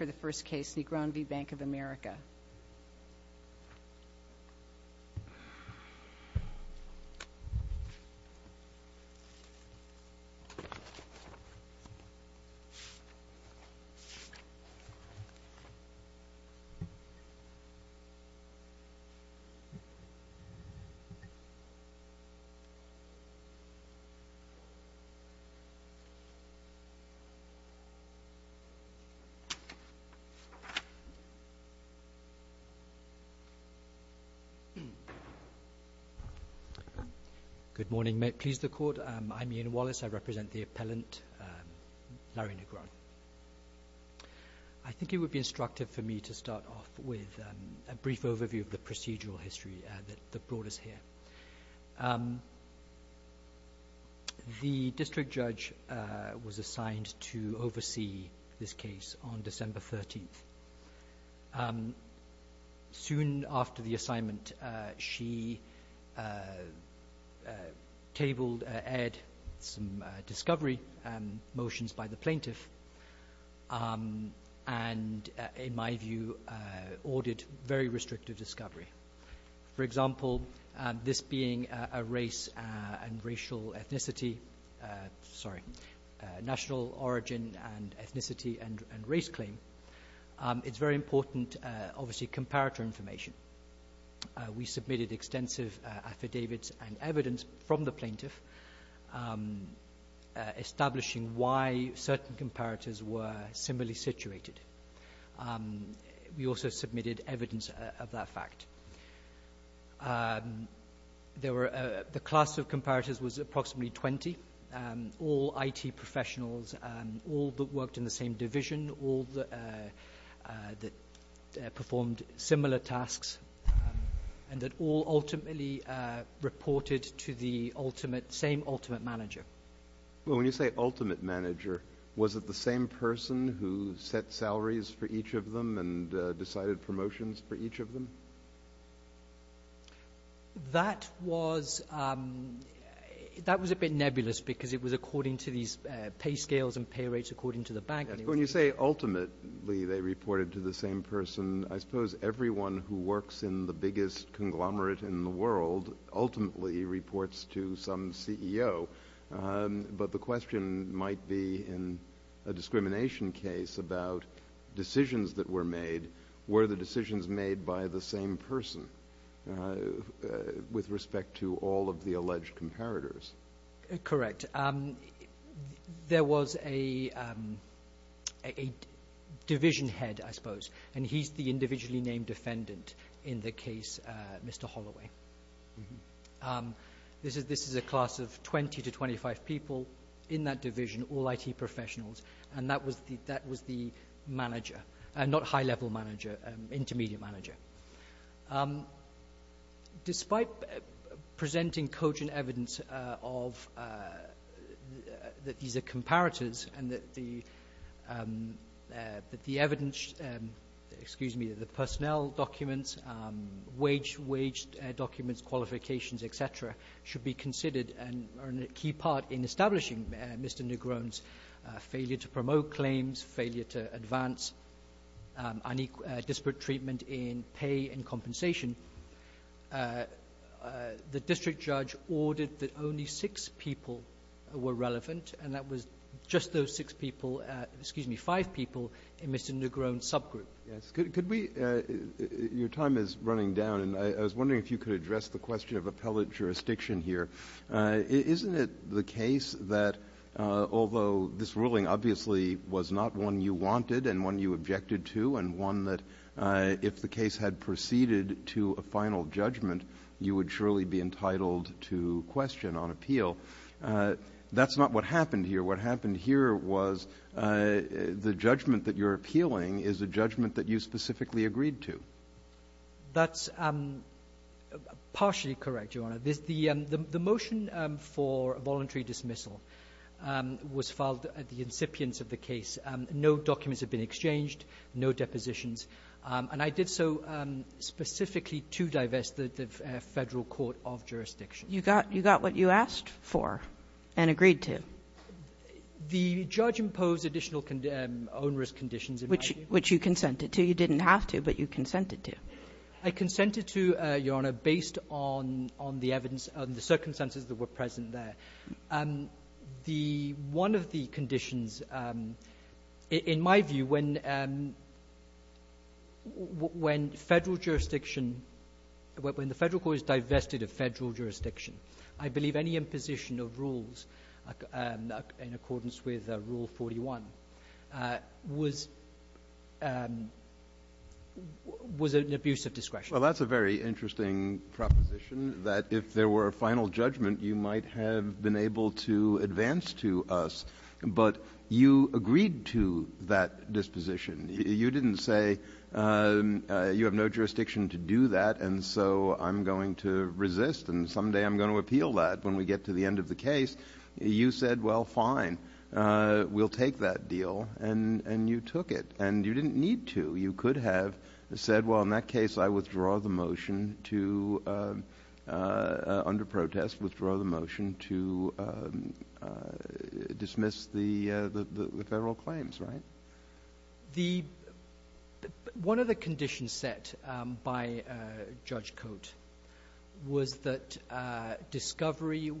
Negron v. Bank of America. I think it would be instructive for me to start off with a brief overview of the procedural history that brought us here. The district judge was assigned to oversee this case on December 13th. Soon after the assignment, she tabled, aired some discovery motions by the plaintiff and, in my view, ordered very restrictive discovery. For example, this being a race and racial ethnicity, sorry, national origin and ethnicity and race claim, it's very important, obviously, comparator information. We submitted extensive affidavits and evidence from the plaintiff establishing why certain comparators were similarly situated. We also submitted evidence of that fact. The class of comparators was approximately 20, all IT professionals, all that worked in the same division, all that performed similar tasks, and that all ultimately reported to the same ultimate manager. Well, when you say ultimate manager, was it the same person who set salaries for each of them and decided promotions for each of them? That was a bit nebulous because it was according to these pay scales and pay rates according to the bank. When you say ultimately they reported to the same person, I suppose everyone who works in the biggest conglomerate in the world ultimately reports to some CEO, but the question might be in a discrimination case about decisions that were made, were the decisions made by the same person with respect to all of the alleged comparators? Correct. And there was a division head, I suppose, and he's the individually named defendant in the case, Mr. Holloway. This is a class of 20 to 25 people in that division, all IT professionals, and that was the manager, not high-level manager, intermediate manager. Despite presenting cogent evidence that these are comparators and that the evidence, excuse me, the personnel documents, wage documents, qualifications, et cetera, should be considered and are a key part in establishing Mr. Negron's failure to promote claims, failure to advance disparate treatment in pay and compensation, the district judge ordered that only six people were relevant, and that was just those six people, excuse me, five people in Mr. Negron's subgroup. Yes. Could we, your time is running down, and I was wondering if you could address the question of appellate jurisdiction here. Isn't it the case that although this ruling obviously was not one you wanted and one you and one that if the case had proceeded to a final judgment, you would surely be entitled to question on appeal, that's not what happened here. What happened here was the judgment that you're appealing is a judgment that you specifically agreed to. That's partially correct, Your Honor. The motion for voluntary dismissal was filed at the incipients of the case. No documents have been exchanged, no depositions, and I did so specifically to divest the Federal Court of Jurisdiction. You got what you asked for and agreed to. The judge imposed additional onerous conditions in my view. Which you consented to. You didn't have to, but you consented to. I consented to, Your Honor, based on the evidence and the circumstances that were present there. One of the conditions, in my view, when the Federal Court is divested of Federal Jurisdiction, I believe any imposition of rules in accordance with Rule 41 was an abuse of discretion. Well, that's a very interesting proposition that if there were a final judgment, you might have been able to advance to us, but you agreed to that disposition. You didn't say, you have no jurisdiction to do that and so I'm going to resist and someday I'm going to appeal that when we get to the end of the case. You said, well, fine, we'll take that deal and you took it and you didn't need to. You could have said, well, in that case, I withdraw the motion to, under protest, withdraw the motion to dismiss the Federal claims, right? One of the conditions set by Judge Cote was that discovery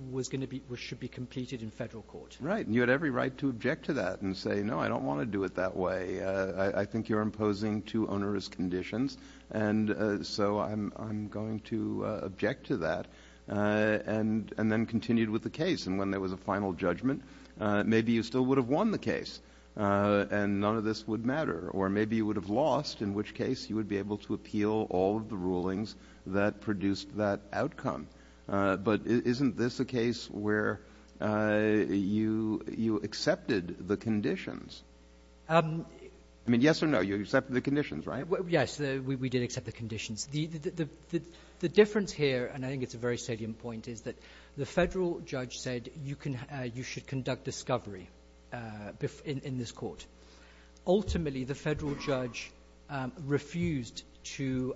should be completed in Federal Court. Right. You had every right to object to that and say, no, I don't want to do it that way. I think you're imposing too onerous conditions and so I'm going to object to that. And then continued with the case and when there was a final judgment, maybe you still would have won the case and none of this would matter or maybe you would have lost in which case you would be able to appeal all of the rulings that produced that outcome. But isn't this a case where you accepted the conditions? I mean, yes or no, you accepted the conditions, right? Yes, we did accept the conditions. The difference here, and I think it's a very salient point, is that the Federal judge said you should conduct discovery in this court. Ultimately, the Federal judge refused to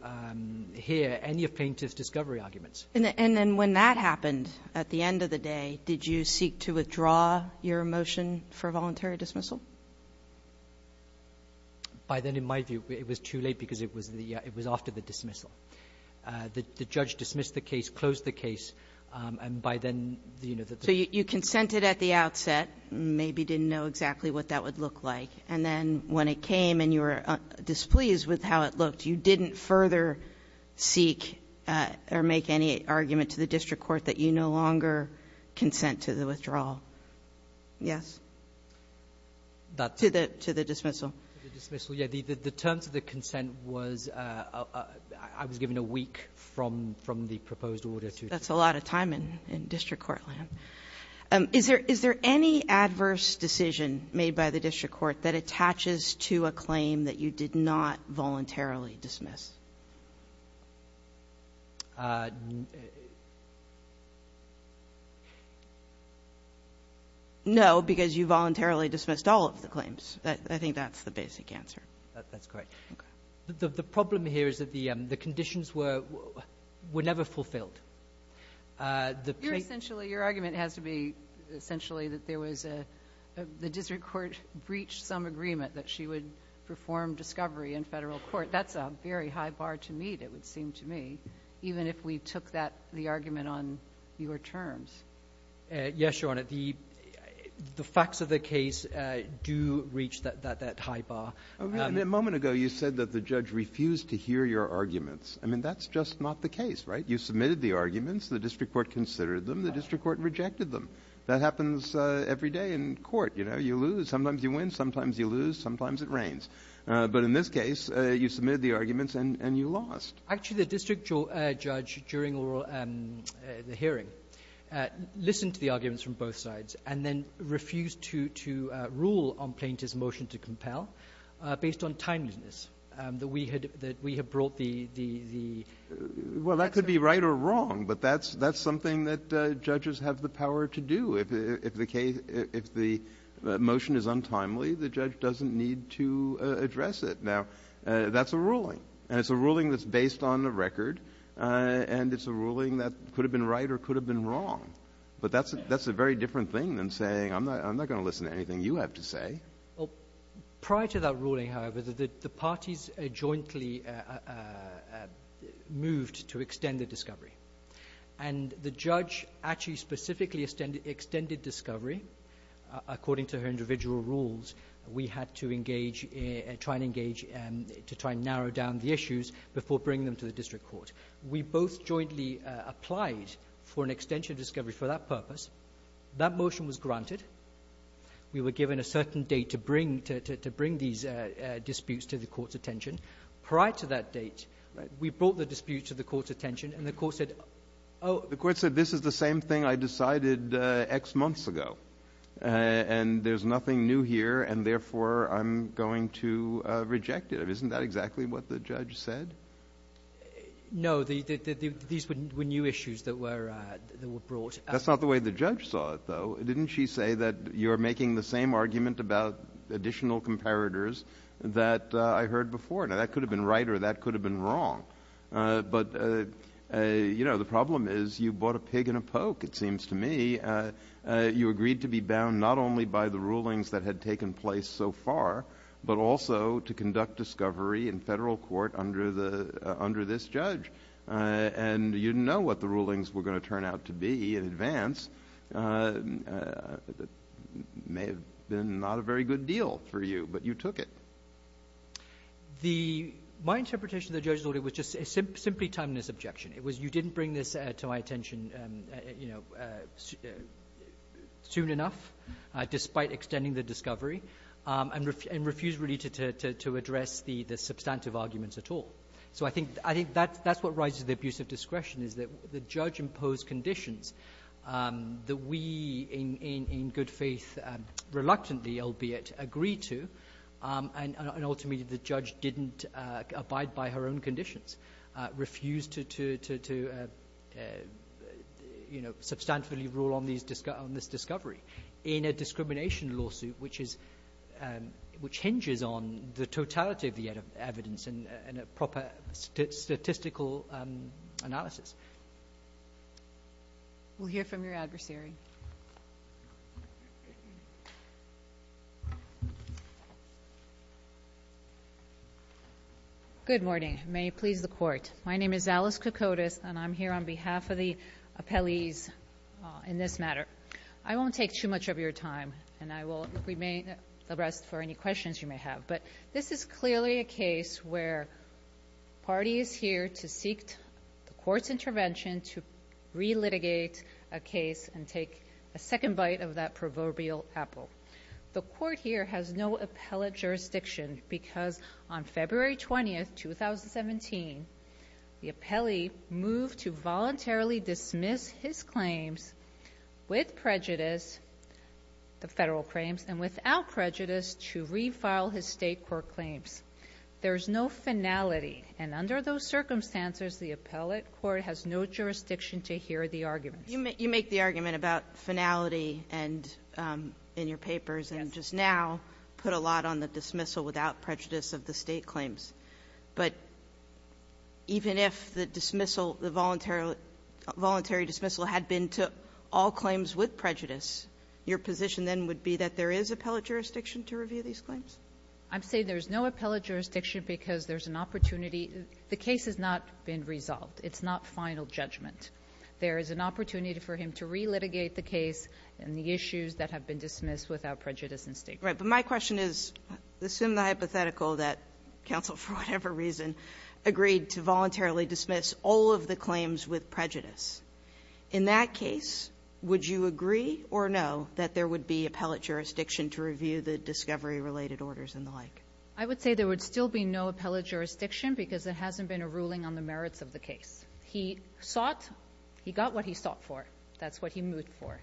hear any plaintiff's discovery arguments. And then when that happened at the end of the day, did you seek to withdraw your motion for voluntary dismissal? By then, in my view, it was too late because it was after the dismissal. The judge dismissed the case, closed the case, and by then, you know, the judge So you consented at the outset, maybe didn't know exactly what that would look like. And then when it came and you were displeased with how it looked, you didn't further seek or make any argument to the district court that you no longer consent to the withdrawal. Yes? To the dismissal? To the dismissal, yeah. The terms of the consent was, I was given a week from the proposed order to... That's a lot of time in district court land. Is there any adverse decision made by the district court that attaches to a claim that you did not voluntarily dismiss? No, because you voluntarily dismissed all of the claims. I think that's the basic answer. That's correct. Okay. The problem here is that the conditions were never fulfilled. You're essentially, your argument has to be essentially that there was a, the district court breached some agreement that she would perform discovery in federal court. That's a very high bar. That's a very high bar to meet, it would seem to me, even if we took the argument on your terms. Yes, Your Honor. The facts of the case do reach that high bar. A moment ago, you said that the judge refused to hear your arguments. I mean, that's just not the case, right? You submitted the arguments. The district court considered them. The district court rejected them. That happens every day in court. You lose. Sometimes you win. Sometimes you lose. Sometimes it rains. But in this case, you submitted the arguments and you lost. Actually, the district judge, during the hearing, listened to the arguments from both sides and then refused to rule on Plaintiff's motion to compel based on timeliness, that we had brought the... Well, that could be right or wrong, but that's something that judges have the power to do. If the motion is untimely, the judge doesn't need to address it. Now, that's a ruling, and it's a ruling that's based on the record, and it's a ruling that could have been right or could have been wrong. But that's a very different thing than saying, I'm not going to listen to anything you have to say. Prior to that ruling, however, the parties jointly moved to extend the discovery, and the judge actually specifically extended discovery. According to her individual rules, we had to try and narrow down the issues before bringing them to the district court. We both jointly applied for an extension of discovery for that purpose. That motion was granted. We were given a certain date to bring these disputes to the court's attention. The court said, this is the same thing I decided X months ago, and there's nothing new here, and therefore I'm going to reject it. Isn't that exactly what the judge said? No, these were new issues that were brought. That's not the way the judge saw it, though. Didn't she say that you're making the same argument about additional comparators that I heard before? Now, that could have been right or that could have been wrong. But, you know, the problem is you bought a pig and a poke, it seems to me. You agreed to be bound not only by the rulings that had taken place so far, but also to conduct discovery in federal court under this judge, and you didn't know what the rulings were going to turn out to be in advance. It may have been not a very good deal for you, but you took it. My interpretation of the judge's order was just a simply timeless objection. It was you didn't bring this to my attention, you know, soon enough, despite extending the discovery, and refused really to address the substantive arguments at all. So I think that's what rises to the abuse of discretion, is that the judge imposed conditions that we, in good faith, reluctantly, albeit, agree to, and ultimately the judge didn't abide by her own conditions, refused to, you know, substantively rule on this discovery in a discrimination lawsuit, which hinges on the totality of the evidence and a proper statistical analysis. We'll hear from your adversary. Good morning. May it please the Court. My name is Alice Kokodes, and I'm here on behalf of the appellees in this matter. I won't take too much of your time, and I will remain abreast for any questions you may have. But this is clearly a case where the party is here to seek the Court's intervention to relitigate a case and take a second bite of that proverbial apple. The Court here has no appellate jurisdiction because on February 20, 2017, the appellee moved to voluntarily dismiss his claims with prejudice, the federal claims, and without prejudice to refile his State court claims. There is no finality, and under those circumstances, the appellate court has no jurisdiction to hear the arguments. You make the argument about finality and in your papers, and just now put a lot on the dismissal without prejudice of the State claims. But even if the dismissal, the voluntary dismissal, had been to all claims with prejudice, your position then would be that there is appellate jurisdiction to review these claims? I'm saying there's no appellate jurisdiction because there's an opportunity the case has not been resolved. It's not final judgment. There is an opportunity for him to relitigate the case and the issues that have been dismissed without prejudice in State court. Right. But my question is, assume the hypothetical that counsel, for whatever reason, agreed to voluntarily dismiss all of the claims with prejudice. In that case, would you agree or no that there would be appellate jurisdiction to review the discovery-related orders and the like? I would say there would still be no appellate jurisdiction because there hasn't been a ruling on the merits of the case. He sought. He got what he sought for. That's what he moved for.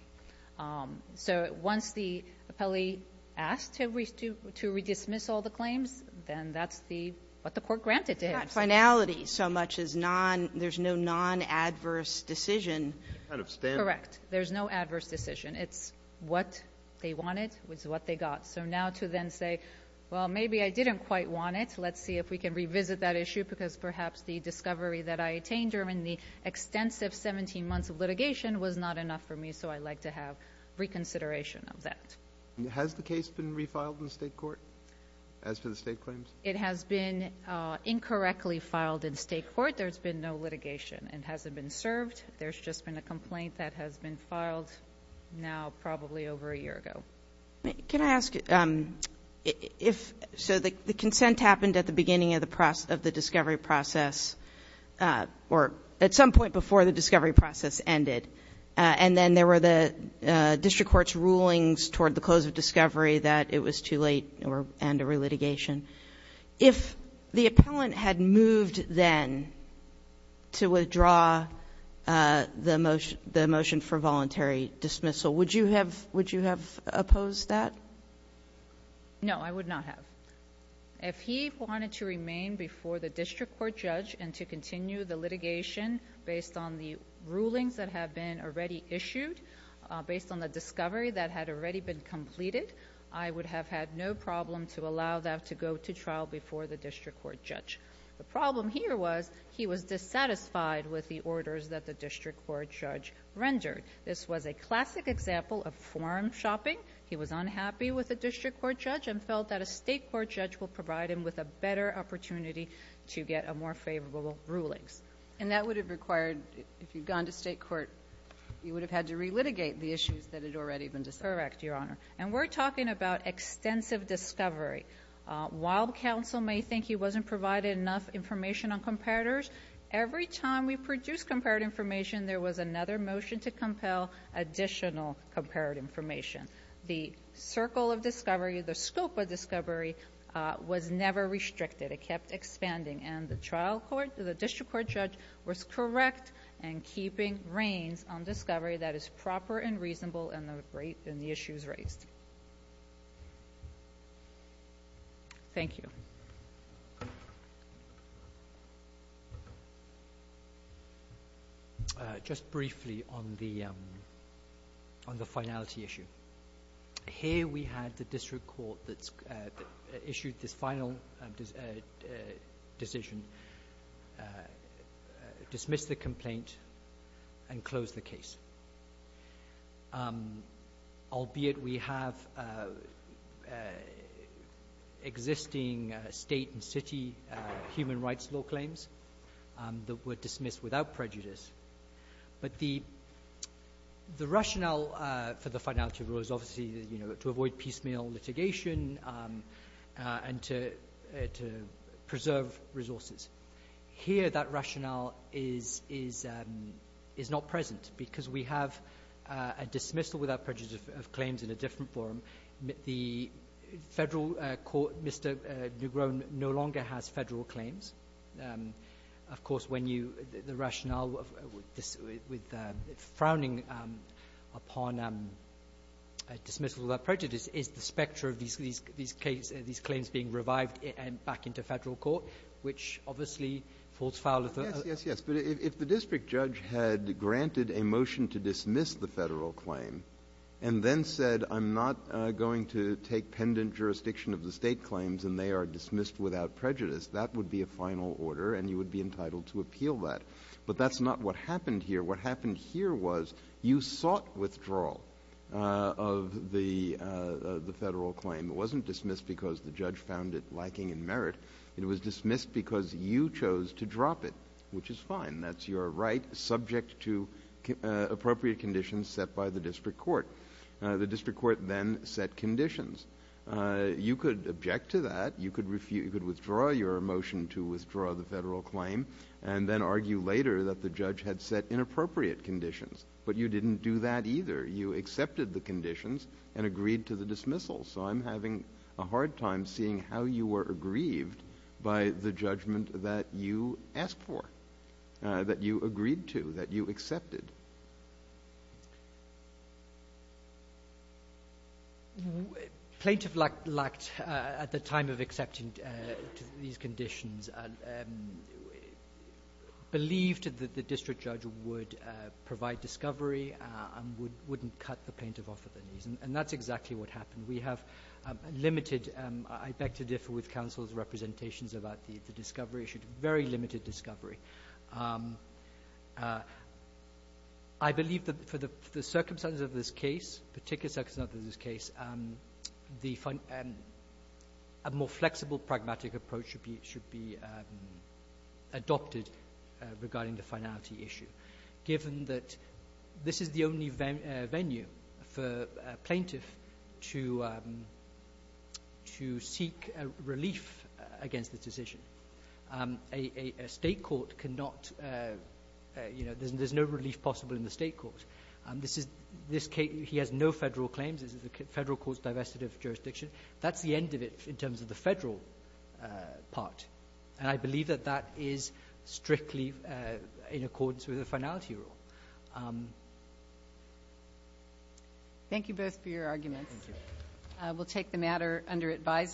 So once the appellee asked to redismiss all the claims, then that's the what the court granted to him. It's not finality so much as there's no non-adverse decision. Correct. There's no adverse decision. It's what they wanted was what they got. So now to then say, well, maybe I didn't quite want it. Let's see if we can revisit that issue because perhaps the discovery that I attained during the extensive 17 months of litigation was not enough for me, so I'd like to have reconsideration of that. Has the case been refiled in State court as to the State claims? It has been incorrectly filed in State court. There's been no litigation. It hasn't been served. There's just been a complaint that has been filed now probably over a year ago. Can I ask if so the consent happened at the beginning of the discovery process or at some point before the discovery process ended, and then there were the district court's rulings toward the close of discovery that it was too late and a relitigation. If the appellant had moved then to withdraw the motion for voluntary dismissal, would you have opposed that? No, I would not have. If he wanted to remain before the district court judge and to continue the litigation based on the rulings that have been already issued, based on the discovery that had already been completed, I would have had no problem to allow that to go to trial before the district court judge. The problem here was he was dissatisfied with the orders that the district court judge rendered. This was a classic example of forum shopping. He was unhappy with the district court judge and felt that a State court judge will provide him with a better opportunity to get a more favorable rulings. And that would have required, if you'd gone to State court, you would have had to relitigate the issues that had already been discussed. Correct, Your Honor. And we're talking about extensive discovery. While counsel may think he wasn't provided enough information on comparators, every time we produced comparative information, there was another motion to compel additional comparative information. The circle of discovery, the scope of discovery, was never restricted. It kept expanding. And the district court judge was correct in keeping reins on discovery that is proper and reasonable in the issues raised. Thank you. Just briefly on the finality issue. Here we had the district court that issued this final decision dismiss the complaint and close the case, albeit we have existing State and city human rights law claims that were dismissed without prejudice. But the rationale for the finality rule is obviously to avoid piecemeal litigation and to preserve resources. Here that rationale is not present because we have a dismissal without prejudice of claims in a different forum. The federal court, Mr. Negron, no longer has federal claims. Of course, the rationale with frowning upon dismissal without prejudice is the specter of these claims being revived back into federal court, which obviously falls foul of the other. Yes, yes, yes. But if the district judge had granted a motion to dismiss the federal claim and then said I'm not going to take pendent jurisdiction of the State claims and they are dismissed without prejudice, that would be a final order and you would be entitled to appeal that. But that's not what happened here. What happened here was you sought withdrawal of the federal claim. It wasn't dismissed because the judge found it lacking in merit. It was dismissed because you chose to drop it, which is fine. That's your right subject to appropriate conditions set by the district court. The district court then set conditions. You could object to that. You could withdraw your motion to withdraw the federal claim and then argue later that the judge had set inappropriate conditions. But you didn't do that either. You accepted the conditions and agreed to the dismissal. So I'm having a hard time seeing how you were aggrieved by the judgment that you asked for, that you agreed to, that you accepted. Plaintiff lacked, at the time of accepting these conditions, believed that the district judge would provide discovery and wouldn't cut the plaintiff off of their knees, and that's exactly what happened. We have limited, I beg to differ with counsel's representations about the discovery issue, very limited discovery. I believe that for the circumstances of this case, particular circumstances of this case, a more flexible, pragmatic approach should be adopted regarding the finality issue, given that this is the only venue for a plaintiff to seek relief against the decision. A state court cannot, you know, there's no relief possible in the state court. He has no federal claims. This is the federal court's divestitive jurisdiction. That's the end of it in terms of the federal part, and I believe that that is strictly in accordance with the finality rule. Thank you both for your arguments. Thank you. We'll take the matter under advisement.